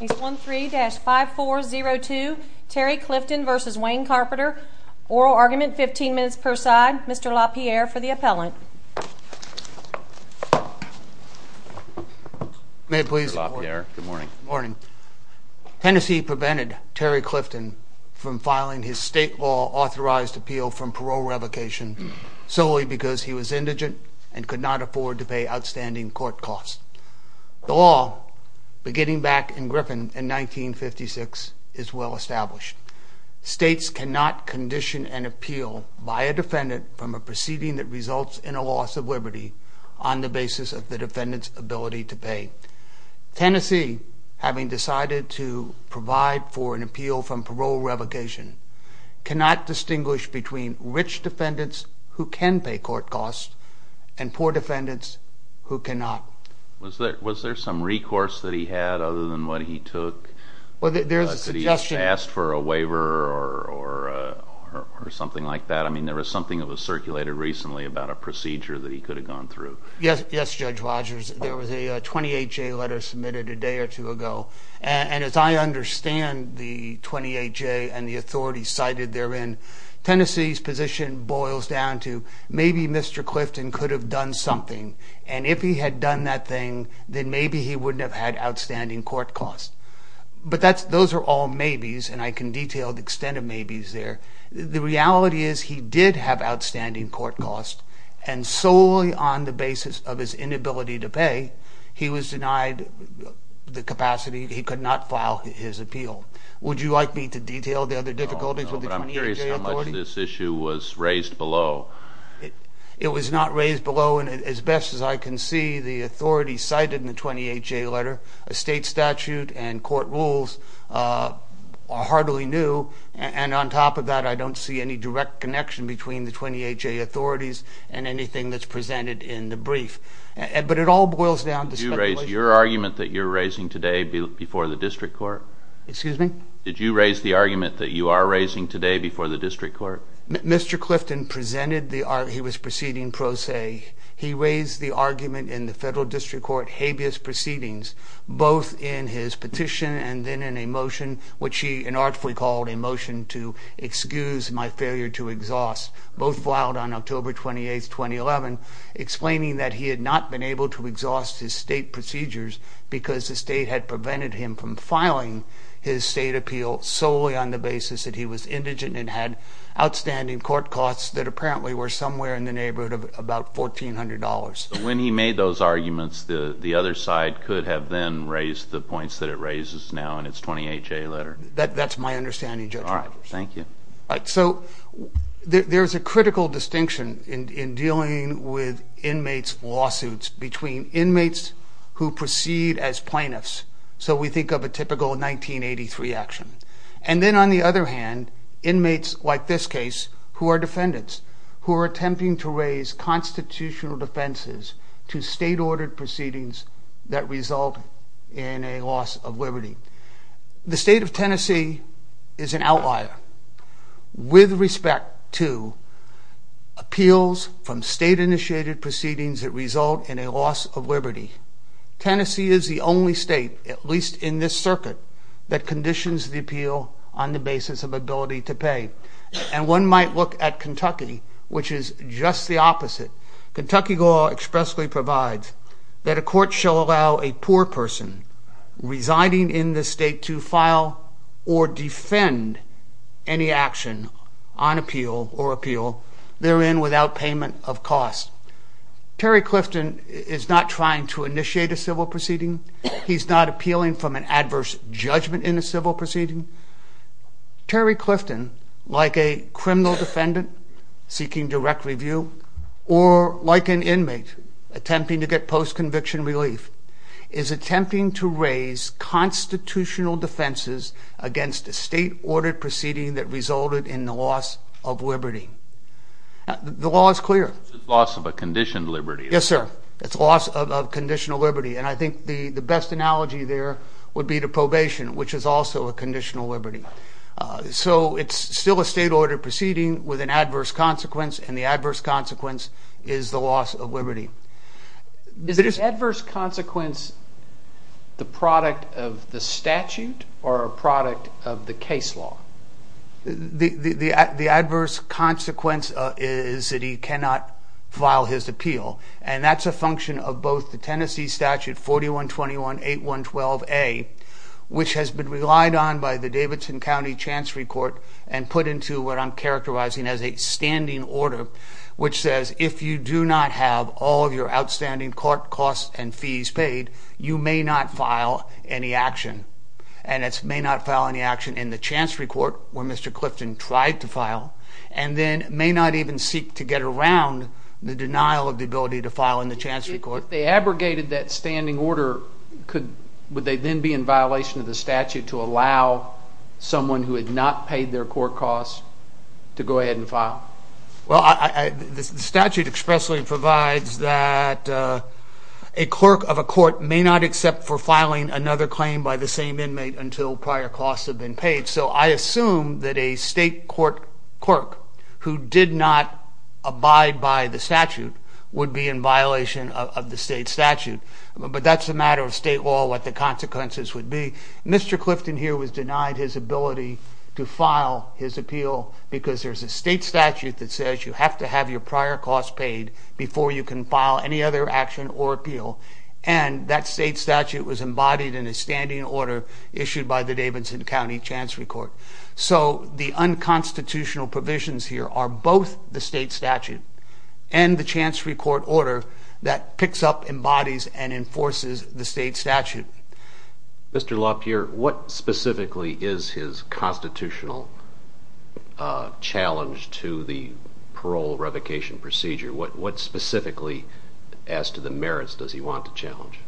Case 13-5402, Terry Clifton v. Wayne Carpenter. Oral argument, 15 minutes per side. Mr. LaPierre for the appellant. May it please the court? Good morning. Tennessee prevented Terry Clifton from filing his state law authorized appeal from parole revocation solely because he was indigent and could not afford to pay outstanding court costs. The law, beginning back in Griffin in 1956, is well established. States cannot condition an appeal by a defendant from a proceeding that results in a loss of liberty on the basis of the defendant's ability to pay. Tennessee, having decided to provide for an appeal from parole revocation, cannot distinguish between rich defendants who can pay court costs and poor defendants who cannot. Was there some recourse that he had other than what he took? Did he ask for a waiver or something like that? I mean, there was something that was circulated recently about a procedure that he could have gone through. Yes, Judge Rogers. There was a 28-J letter submitted a day or two ago. And as I understand the 28-J and the authorities cited therein, Tennessee's position boils down to maybe Mr. Clifton could have done something. And if he had done that thing, then maybe he wouldn't have had outstanding court costs. But those are all maybes, and I can detail the extent of maybes there. The reality is he did have outstanding court costs, and solely on the basis of his inability to pay, he was denied the capacity. He could not file his appeal. Would you like me to detail the other difficulties with the 28-J authority? No, but I'm curious how much this issue was raised below. It was not raised below. And as best as I can see, the authorities cited in the 28-J letter, a state statute and court rules are hardly new. And on top of that, I don't see any direct connection between the 28-J authorities and anything that's presented in the brief. But it all boils down to speculation. Did you raise your argument that you're raising today before the district court? Excuse me? Did you raise the argument that you are raising today before the district court? Mr. Clifton presented the argument he was proceeding pro se. He raised the argument in the federal district court habeas proceedings, both in his petition and then in a motion, which he inartfully called a motion to excuse my failure to exhaust, both filed on October 28, 2011, explaining that he had not been able to exhaust his state procedures because the state had prevented him from filing his state appeal solely on the basis that he was indigent and had outstanding court costs that apparently were somewhere in the neighborhood of about $1,400. When he made those arguments, the other side could have then raised the points that it raises now in its 28-J letter. That's my understanding, Judge Roberts. All right, thank you. So there's a critical distinction in dealing with inmates' lawsuits between inmates who proceed as plaintiffs, so we think of a typical 1983 action, and then on the other hand, inmates like this case who are defendants who are attempting to raise constitutional defenses to state-ordered proceedings that result in a loss of liberty. The state of Tennessee is an outlier with respect to appeals from state-initiated proceedings that result in a loss of liberty. Tennessee is the only state, at least in this circuit, that conditions the appeal on the basis of ability to pay, and one might look at Kentucky, which is just the opposite. Kentucky law expressly provides that a court shall allow a poor person residing in the state to file or defend any action on appeal or appeal therein without payment of cost. Terry Clifton is not trying to initiate a civil proceeding. He's not appealing from an adverse judgment in a civil proceeding. Terry Clifton, like a criminal defendant seeking direct review, or like an inmate attempting to get post-conviction relief, is attempting to raise constitutional defenses against a state-ordered proceeding that resulted in a loss of liberty. The law is clear. It's a loss of a conditioned liberty. Yes, sir. It's a loss of conditional liberty, and I think the best analogy there would be to probation, which is also a conditional liberty. So it's still a state-ordered proceeding with an adverse consequence, and the adverse consequence is the loss of liberty. Is the adverse consequence the product of the statute or a product of the case law? The adverse consequence is that he cannot file his appeal, and that's a function of both the Tennessee Statute 4121.8.112a, which has been relied on by the Davidson County Chancery Court and put into what I'm characterizing as a standing order, which says if you do not have all of your outstanding court costs and fees paid, you may not file any action. And it's may not file any action in the Chancery Court, where Mr. Clifton tried to file, and then may not even seek to get around the denial of the ability to file in the Chancery Court. If they abrogated that standing order, would they then be in violation of the statute to allow someone who had not paid their court costs to go ahead and file? Well, the statute expressly provides that a clerk of a court may not accept for filing another claim by the same inmate until prior costs have been paid. So I assume that a state court clerk who did not abide by the statute would be in violation of the state statute. But that's a matter of state law, what the consequences would be. Mr. Clifton here was denied his ability to file his appeal because there's a state statute that says you have to have your prior costs paid before you can file any other action or appeal. And that state statute was embodied in a standing order issued by the Davidson County Chancery Court. So the unconstitutional provisions here are both the state statute and the Chancery Court order that picks up, embodies, and enforces the state statute. Mr. LaPierre, what specifically is his constitutional challenge to the parole revocation procedure? What specifically, as to the merits, does he want to challenge?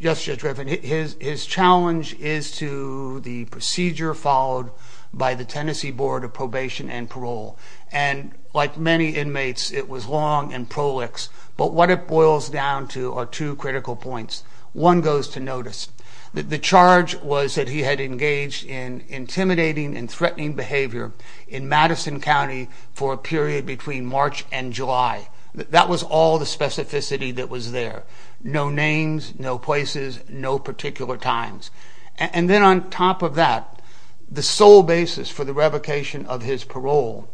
Yes, Judge Griffin, his challenge is to the procedure followed by the Tennessee Board of Probation and Parole. And like many inmates, it was long and prolix. But what it boils down to are two critical points. One goes to notice. The charge was that he had engaged in intimidating and threatening behavior in Madison County for a period between March and July. That was all the specificity that was there. No names, no places, no particular times. And then on top of that, the sole basis for the revocation of his parole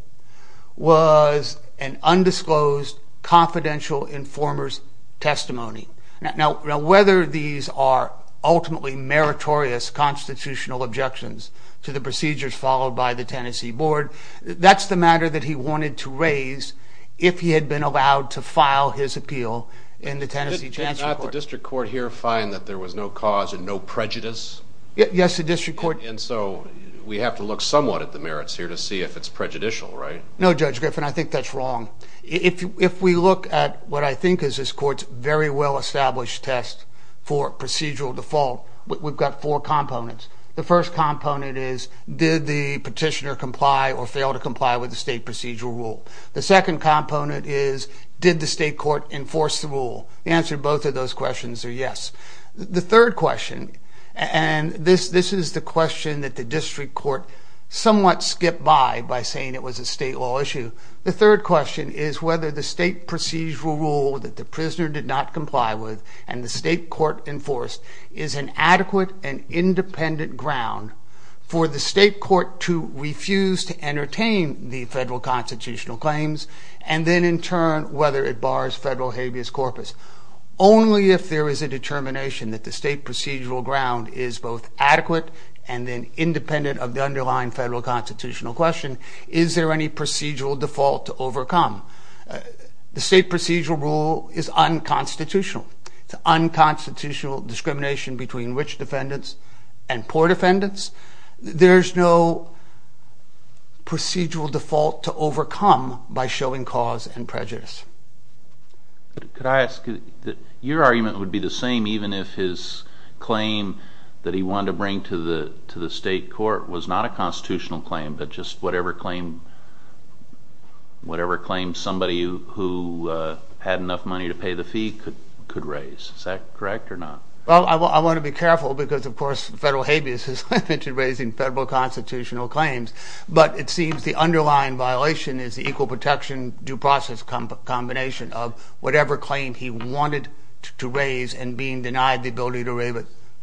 was an undisclosed confidential informer's testimony. Now, whether these are ultimately meritorious constitutional objections to the procedures followed by the Tennessee Board, that's the matter that he wanted to raise if he had been allowed to file his appeal in the Tennessee Chancery Court. Did not the district court here find that there was no cause and no prejudice? Yes, the district court. And so we have to look somewhat at the merits here to see if it's prejudicial, right? No, Judge Griffin, I think that's wrong. If we look at what I think is this court's very well-established test for procedural default, we've got four components. The first component is, did the petitioner comply or fail to comply with the state procedural rule? The second component is, did the state court enforce the rule? The answer to both of those questions are yes. The third question, and this is the question that the district court somewhat skipped by by saying it was a state law issue. The third question is whether the state procedural rule that the prisoner did not comply with and the state court enforced is an adequate and independent ground for the state court to refuse to entertain the federal constitutional claims and then in turn whether it bars federal habeas corpus. Only if there is a determination that the state procedural ground is both adequate and then independent of the underlying federal constitutional question is there any procedural default to overcome. The state procedural rule is unconstitutional. It's unconstitutional discrimination between rich defendants and poor defendants. There's no procedural default to overcome by showing cause and prejudice. Could I ask that your argument would be the same even if his claim that he wanted to bring to the state court was not a constitutional claim but just whatever claim somebody who had enough money to pay the fee could raise. Is that correct or not? Well, I want to be careful because, of course, federal habeas has limited raising federal constitutional claims, but it seems the underlying violation is the equal protection due process combination of whatever claim he wanted to raise and being denied the ability to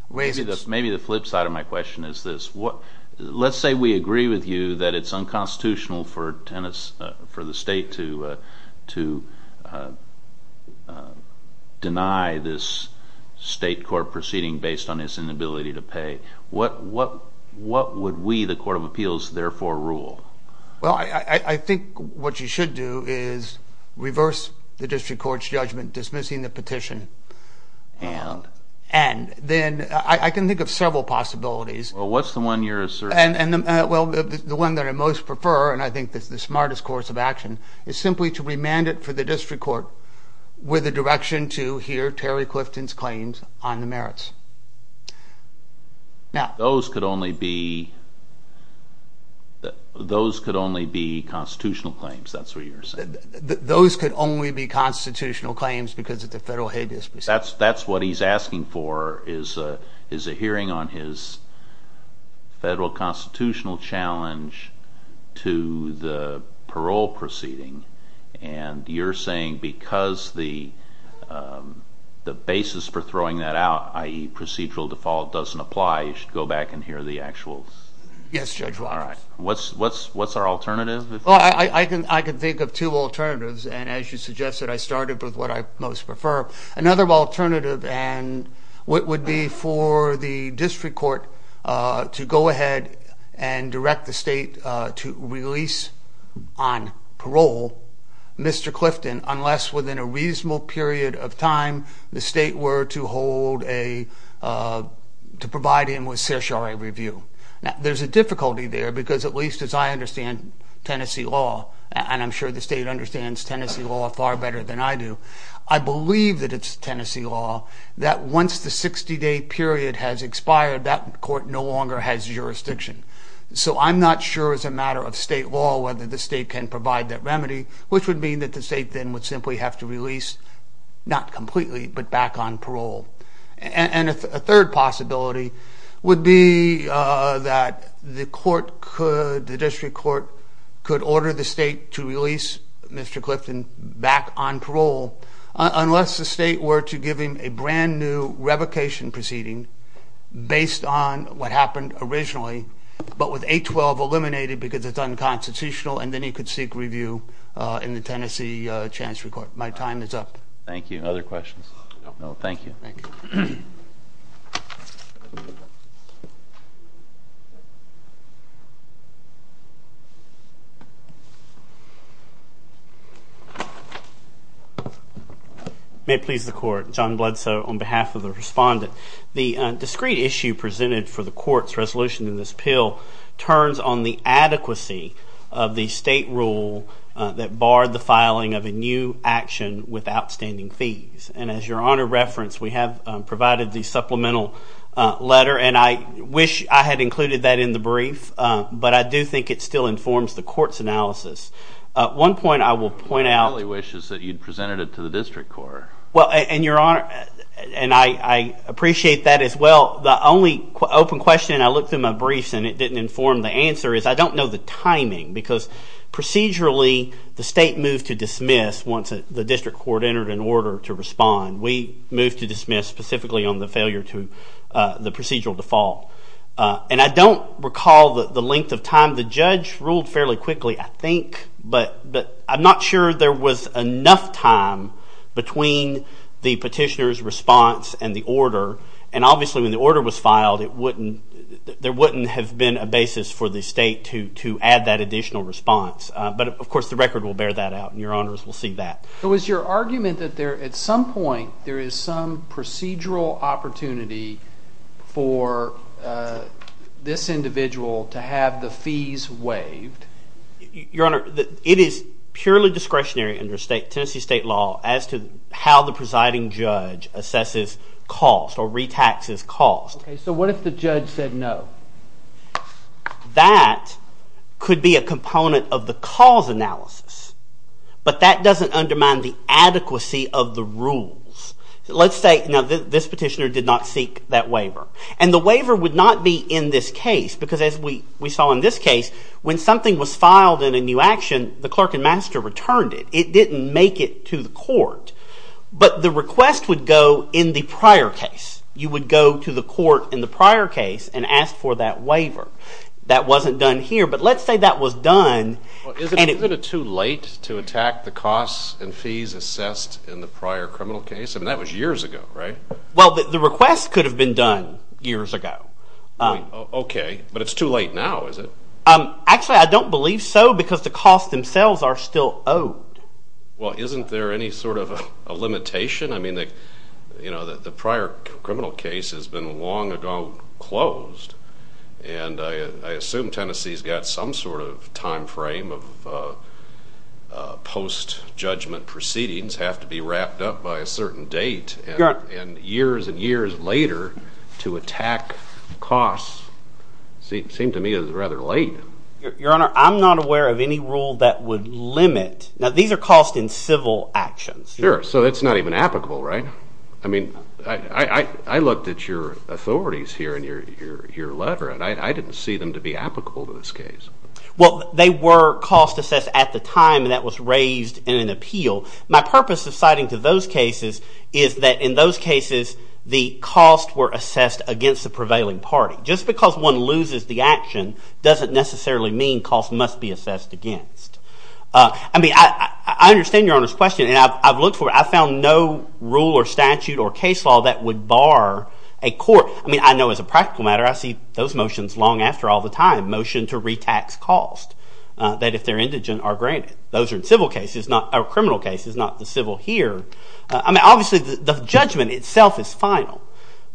raise it. Maybe the flip side of my question is this. Let's say we agree with you that it's unconstitutional for the state to deny this state court proceeding based on its inability to pay. What would we, the Court of Appeals, therefore rule? Well, I think what you should do is reverse the district court's judgment, dismissing the petition. And? And then I can think of several possibilities. Well, what's the one you're asserting? Well, the one that I most prefer, and I think that's the smartest course of action, is simply to remand it for the district court with a direction to hear Terry Clifton's claims on the merits. Those could only be constitutional claims. That's what you're saying. Those could only be constitutional claims because of the federal habeas procedure. That's what he's asking for, is a hearing on his federal constitutional challenge to the parole proceeding. And you're saying because the basis for throwing that out, i.e. procedural default doesn't apply, you should go back and hear the actuals. Yes, Judge Walters. All right. What's our alternative? Well, I can think of two alternatives. And as you suggested, I started with what I most prefer. Another alternative would be for the district court to go ahead and direct the state to release on parole Mr. Clifton unless within a reasonable period of time the state were to provide him with certiorari review. Now, there's a difficulty there because at least as I understand Tennessee law, and I'm sure the state understands Tennessee law far better than I do, I believe that it's Tennessee law that once the 60-day period has expired, that court no longer has jurisdiction. So I'm not sure as a matter of state law whether the state can provide that remedy, which would mean that the state then would simply have to release, not completely, but back on parole. And a third possibility would be that the district court could order the state to release Mr. Clifton back on parole unless the state were to give him a brand-new revocation proceeding based on what happened originally, but with 812 eliminated because it's unconstitutional, and then he could seek review in the Tennessee Chancery Court. My time is up. Thank you. Other questions? No, thank you. Thank you. Thank you. May it please the court. John Bloodsoe on behalf of the respondent. The discrete issue presented for the court's resolution in this bill turns on the adequacy of the state rule that barred the filing of a new action with outstanding fees. And as your Honor referenced, we have provided the supplemental letter, and I wish I had included that in the brief, but I do think it still informs the court's analysis. One point I will point out. My only wish is that you'd presented it to the district court. Well, and your Honor, and I appreciate that as well, the only open question I looked in my briefs and it didn't inform the answer is I don't know the timing because procedurally the state moved to dismiss once the district court entered an order to respond. We moved to dismiss specifically on the failure to the procedural default. And I don't recall the length of time. The judge ruled fairly quickly, I think, but I'm not sure there was enough time between the petitioner's response and the order. And obviously when the order was filed, there wouldn't have been a basis for the state to add that additional response. But, of course, the record will bear that out, and your Honors will see that. So is your argument that at some point there is some procedural opportunity for this individual to have the fees waived? Your Honor, it is purely discretionary under Tennessee state law as to how the presiding judge assesses cost or retaxes cost. Okay, so what if the judge said no? That could be a component of the cause analysis, but that doesn't undermine the adequacy of the rules. Let's say this petitioner did not seek that waiver. And the waiver would not be in this case because as we saw in this case, when something was filed in a new action, the clerk and master returned it. It didn't make it to the court. But the request would go in the prior case. You would go to the court in the prior case and ask for that waiver. That wasn't done here, but let's say that was done. Isn't it too late to attack the costs and fees assessed in the prior criminal case? I mean, that was years ago, right? Well, the request could have been done years ago. Okay, but it's too late now, is it? Actually, I don't believe so because the costs themselves are still owed. Well, isn't there any sort of a limitation? I mean, the prior criminal case has been long ago closed, and I assume Tennessee's got some sort of time frame of post-judgment proceedings have to be wrapped up by a certain date, and years and years later to attack costs seemed to me as rather late. Your Honor, I'm not aware of any rule that would limit. Now, these are costs in civil actions. Sure, so it's not even applicable, right? I mean, I looked at your authorities here and your letter, and I didn't see them to be applicable to this case. Well, they were cost-assessed at the time, and that was raised in an appeal. My purpose of citing to those cases is that in those cases, the costs were assessed against the prevailing party. Just because one loses the action doesn't necessarily mean costs must be assessed against. I mean, I understand Your Honor's question, and I've looked for it. I found no rule or statute or case law that would bar a court. I mean, I know as a practical matter, I see those motions long after all the time, motion to retax cost, that if they're indigent are granted. Those are in civil cases, not criminal cases, not the civil here. I mean, obviously the judgment itself is final,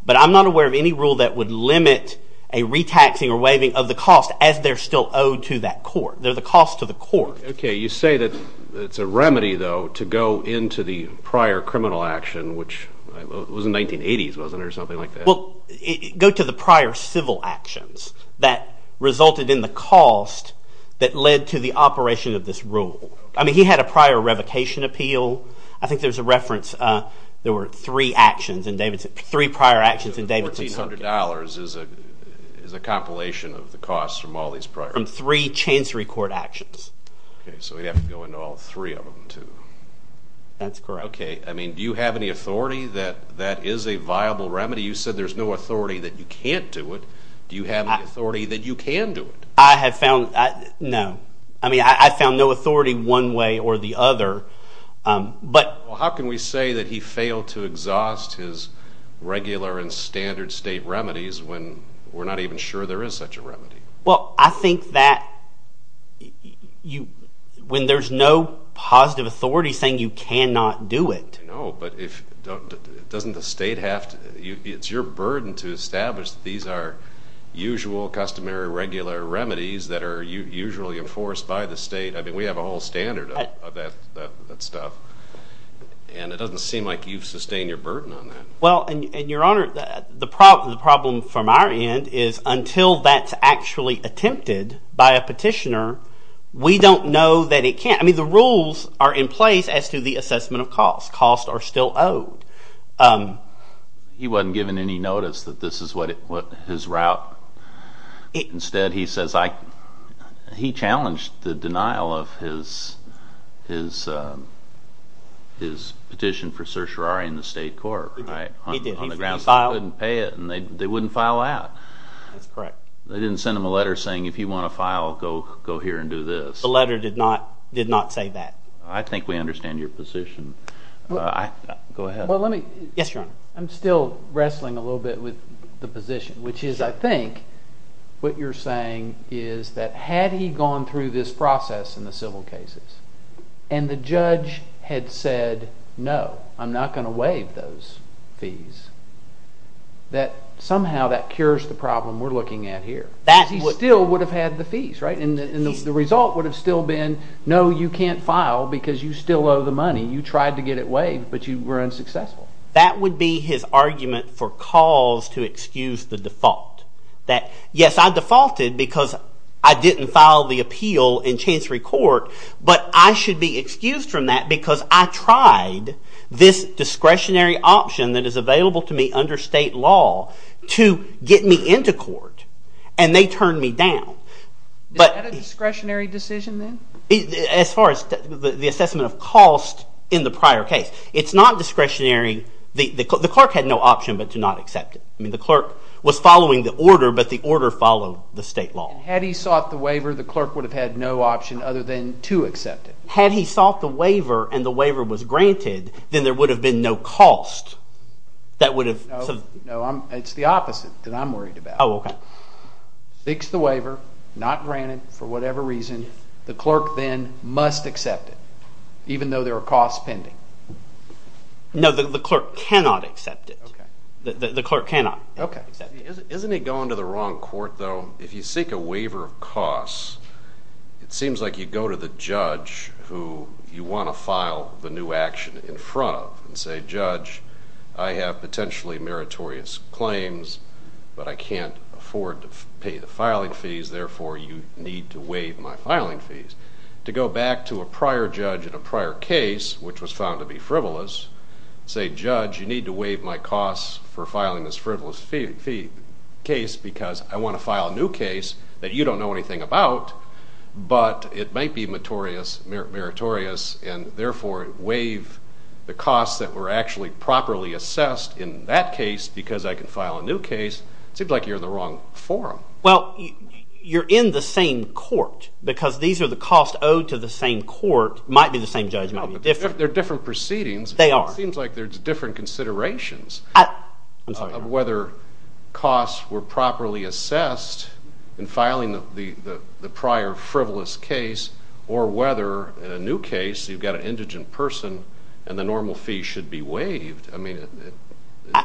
but I'm not aware of any rule that would limit a retaxing or waiving of the cost as they're still owed to that court. They're the cost to the court. Okay, you say that it's a remedy, though, to go into the prior criminal action, which was in the 1980s, wasn't it, or something like that? Well, go to the prior civil actions that resulted in the cost that led to the operation of this rule. I mean, he had a prior revocation appeal. I think there's a reference. There were three actions in Davidson's... three prior actions in Davidson's... $1,400 is a compilation of the costs from all these prior... From three Chancery Court actions. Okay, so we'd have to go into all three of them, too. That's correct. Okay, I mean, do you have any authority that that is a viable remedy? You said there's no authority that you can't do it. Do you have any authority that you can do it? I have found... No. I mean, I found no authority one way or the other. But... Well, how can we say that he failed to exhaust his regular and standard state remedies when we're not even sure there is such a remedy? Well, I think that you... When there's no positive authority saying you cannot do it... No, but if... Doesn't the state have to... It's your burden to establish that these are usual, customary, regular remedies that are usually enforced by the state. I mean, we have a whole standard of that stuff. And it doesn't seem like you've sustained your burden on that. Well, and, Your Honor, the problem from our end is until that's actually attempted by a petitioner, we don't know that it can. I mean, the rules are in place as to the assessment of costs. Costs are still owed. He wasn't given any notice that this is what his route... Instead, he says I... He challenged the denial of his petition for certiorari in the state court, right? He did. On the grounds he couldn't pay it, and they wouldn't file out. That's correct. They didn't send him a letter saying, if you want to file, go here and do this. The letter did not say that. I think we understand your position. Go ahead. Well, let me... Yes, Your Honor. I'm still wrestling a little bit with the position, which is I think what you're saying is that had he gone through this process in the civil cases and the judge had said, no, I'm not going to waive those fees, that somehow that cures the problem we're looking at here. That would... Because he still would have had the fees, right? And the result would have still been, no, you can't file because you still owe the money. You tried to get it waived, but you were unsuccessful. That would be his argument for cause to excuse the default. That, yes, I defaulted because I didn't file the appeal in Chancery Court, but I should be excused from that because I tried this discretionary option that is available to me under state law to get me into court, and they turned me down. Is that a discretionary decision then? As far as the assessment of cost in the prior case, it's not discretionary. The clerk had no option but to not accept it. I mean the clerk was following the order, but the order followed the state law. Had he sought the waiver, the clerk would have had no option other than to accept it. Had he sought the waiver and the waiver was granted, then there would have been no cost that would have... No, it's the opposite that I'm worried about. Oh, OK. Fixed the waiver, not granted for whatever reason. The clerk then must accept it, even though there are costs pending. No, the clerk cannot accept it. The clerk cannot accept it. Isn't he going to the wrong court, though? If you seek a waiver of costs, it seems like you go to the judge who you want to file the new action in front of and say, Judge, I have potentially meritorious claims, but I can't afford to pay the filing fees, therefore you need to waive my filing fees. To go back to a prior judge in a prior case, which was found to be frivolous, say, Judge, you need to waive my costs for filing this frivolous case because I want to file a new case that you don't know anything about, but it might be meritorious and therefore waive the costs that were actually properly assessed in that case because I can file a new case, it seems like you're in the wrong forum. Well, you're in the same court because these are the costs owed to the same court. It might be the same judge. It might be different. They're different proceedings. They are. It seems like there's different considerations of whether costs were properly assessed in filing the prior frivolous case or whether in a new case you've got an indigent person and the normal fee should be waived.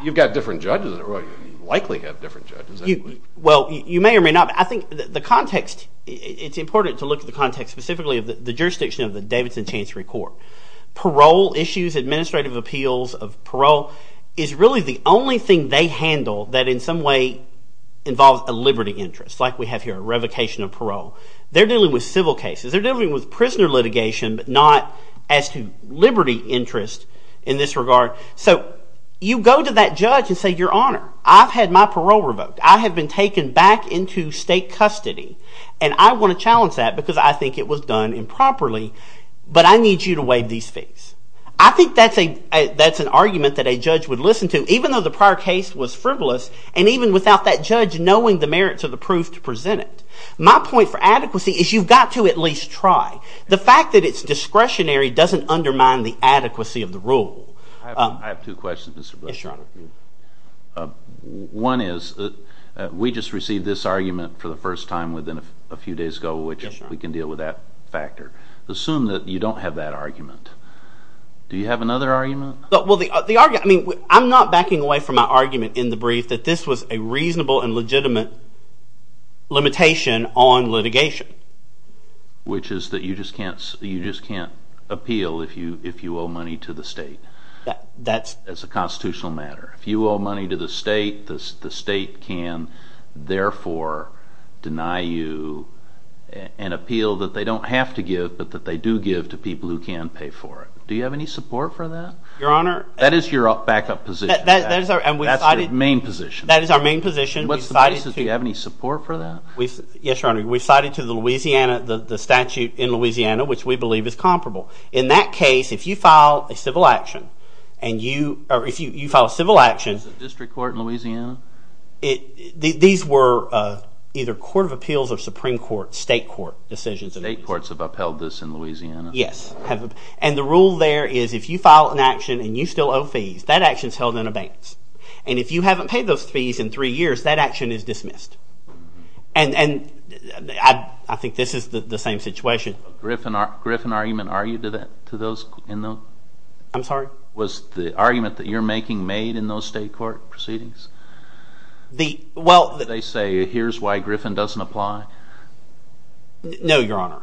You've got different judges. You likely have different judges. Well, you may or may not. I think the context – it's important to look at the context specifically of the jurisdiction of the Davidson Chancery Court. Parole issues, administrative appeals of parole is really the only thing they handle that in some way involves a liberty interest like we have here, a revocation of parole. They're dealing with civil cases. They're dealing with prisoner litigation but not as to liberty interest in this regard. So you go to that judge and say, Your Honor, I've had my parole revoked. I have been taken back into state custody and I want to challenge that because I think it was done improperly but I need you to waive these fees. I think that's an argument that a judge would listen to even though the prior case was frivolous and even without that judge knowing the merits of the proof to present it. My point for adequacy is you've got to at least try. The fact that it's discretionary doesn't undermine the adequacy of the rule. I have two questions, Mr. Bush. One is, we just received this argument for the first time within a few days ago which we can deal with that factor. Assume that you don't have that argument. Do you have another argument? I'm not backing away from my argument in the brief that this was a reasonable and legitimate limitation on litigation. Which is that you just can't appeal if you owe money to the state as a constitutional matter. If you owe money to the state, the state can therefore deny you an appeal that they don't have to give but that they do give to people who can pay for it. Do you have any support for that? That is your backup position. That's your main position. That is our main position. Do you have any support for that? Yes, Your Honor. We cited to the statute in Louisiana which we believe is comparable. In that case, if you file a civil action or if you file a civil action Was it district court in Louisiana? These were either court of appeals or Supreme Court, state court decisions. State courts have upheld this in Louisiana. Yes. And the rule there is if you file an action and you still owe fees, that action is held in abeyance. And if you haven't paid those fees in three years, that action is dismissed. And I think this is the same situation. Was the Griffin argument argued to those in those? I'm sorry? Was the argument that you're making made in those state court proceedings? They say here's why Griffin doesn't apply? No, Your Honor.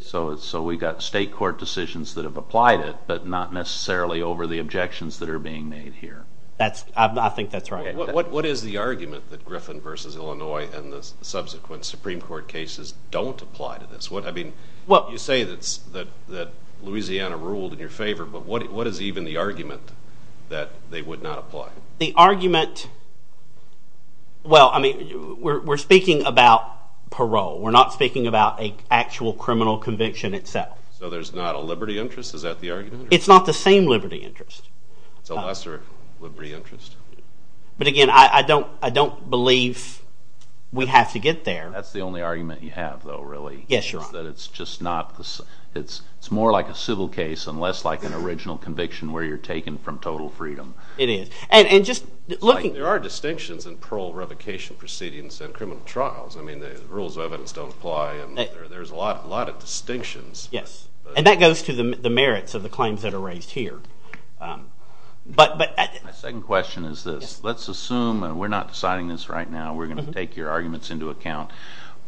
So we've got state court decisions that have applied it but not necessarily over the objections that are being made here. I think that's right. What is the argument that Griffin versus Illinois and the subsequent Supreme Court cases don't apply to this? You say that Louisiana ruled in your favor, but what is even the argument that they would not apply? The argument… Well, we're speaking about parole. We're not speaking about an actual criminal conviction itself. So there's not a liberty interest? Is that the argument? It's not the same liberty interest. It's a lesser liberty interest. But again, I don't believe we have to get there. That's the only argument you have, though, really. Yes, Your Honor. It's more like a civil case and less like an original conviction where you're taken from total freedom. It is. There are distinctions in parole revocation proceedings and criminal trials. I mean, the rules of evidence don't apply and there's a lot of distinctions. Yes, and that goes to the merits of the claims that are raised here. My second question is this. Let's assume, and we're not deciding this right now, we're going to take your arguments into account,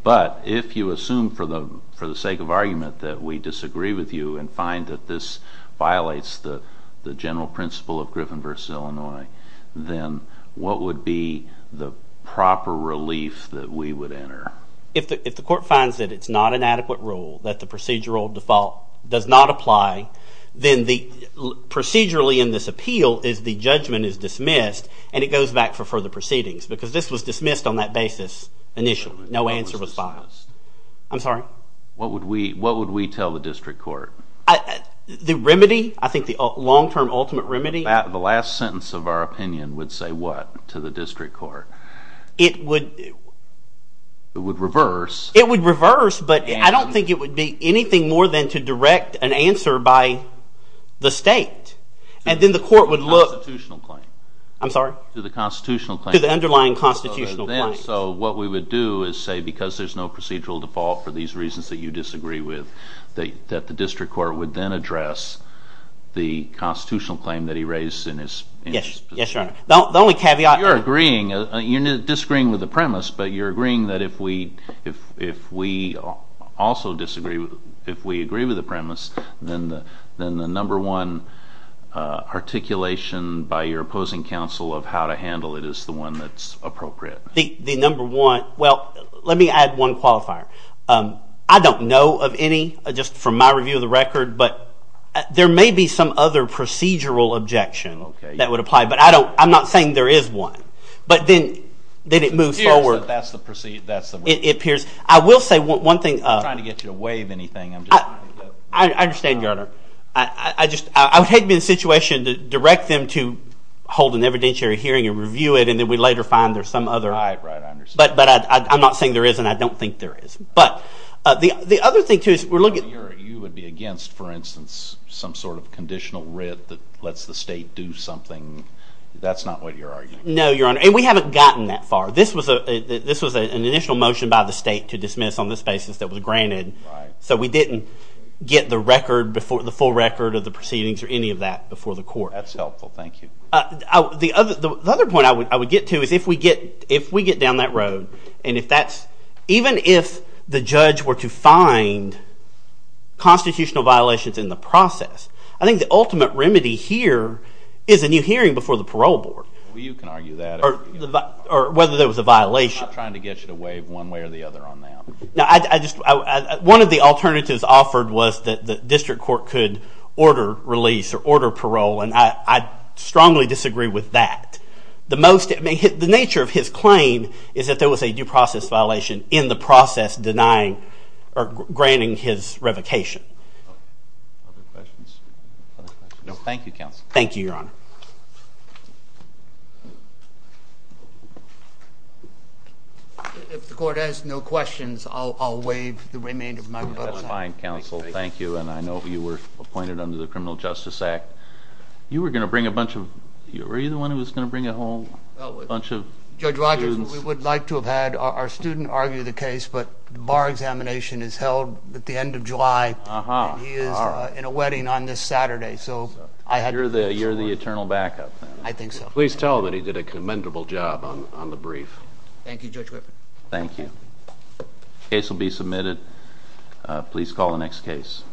but if you assume for the sake of argument that we disagree with you and find that this violates the general principle of Griffin v. Illinois, then what would be the proper relief that we would enter? If the court finds that it's not an adequate rule, that the procedural default does not apply, then procedurally in this appeal is the judgment is dismissed and it goes back for further proceedings because this was dismissed on that basis initially. No answer was filed. I'm sorry? What would we tell the district court? The remedy? I think the long-term ultimate remedy? The last sentence of our opinion would say what to the district court? It would... It would reverse. It would reverse, but I don't think it would be anything more than to direct an answer by the state and then the court would look... To the constitutional claim. I'm sorry? To the constitutional claim. To the underlying constitutional claim. So what we would do is say because there's no procedural default for these reasons that you disagree with, that the district court would then address the constitutional claim that he raised in his... Yes, Your Honor. The only caveat... You're agreeing. You're disagreeing with the premise, but you're agreeing that if we also disagree, if we agree with the premise, then the number one articulation by your opposing counsel of how to handle it is the one that's appropriate. The number one... Well, let me add one qualifier. I don't know of any, just from my review of the record, but there may be some other procedural objection that would apply, but I'm not saying there is one. But then it moves forward. It appears that that's the... It appears... I will say one thing... I'm not trying to get you to waive anything. I understand, Your Honor. I would hate to be in a situation to direct them to hold an evidentiary hearing and review it, and then we later find there's some other... Right, right, I understand. But I'm not saying there is, and I don't think there is. But the other thing, too, is we're looking... You would be against, for instance, some sort of conditional writ that lets the state do something. That's not what you're arguing. No, Your Honor, and we haven't gotten that far. This was an initial motion by the state to dismiss on this basis that was granted, so we didn't get the full record of the proceedings or any of that before the court. That's helpful. Thank you. The other point I would get to is if we get down that road, and if that's... Even if the judge were to find constitutional violations in the process, I think the ultimate remedy here is a new hearing before the parole board. Well, you can argue that. Or whether there was a violation. I'm not trying to get you to waive one way or the other on that. No, I just... One of the alternatives offered was that the district court could order release or order parole, and I strongly disagree with that. The nature of his claim is that there was a due process violation in the process denying or granting his revocation. Other questions? No, thank you, counsel. Thank you, Your Honor. If the court has no questions, I'll waive the remainder of my vote. That's fine, counsel. Thank you. And I know you were appointed under the Criminal Justice Act. You were going to bring a bunch of... Were you the one who was going to bring a whole bunch of students? Judge Rogers, we would like to have had our student argue the case, but the bar examination is held at the end of July, and he is in a wedding on this Saturday, so I had to... You're the eternal backup. I think so. Please tell him that he did a commendable job on the brief. Thank you, Judge Griffin. Thank you. The case will be submitted. Please call the next case.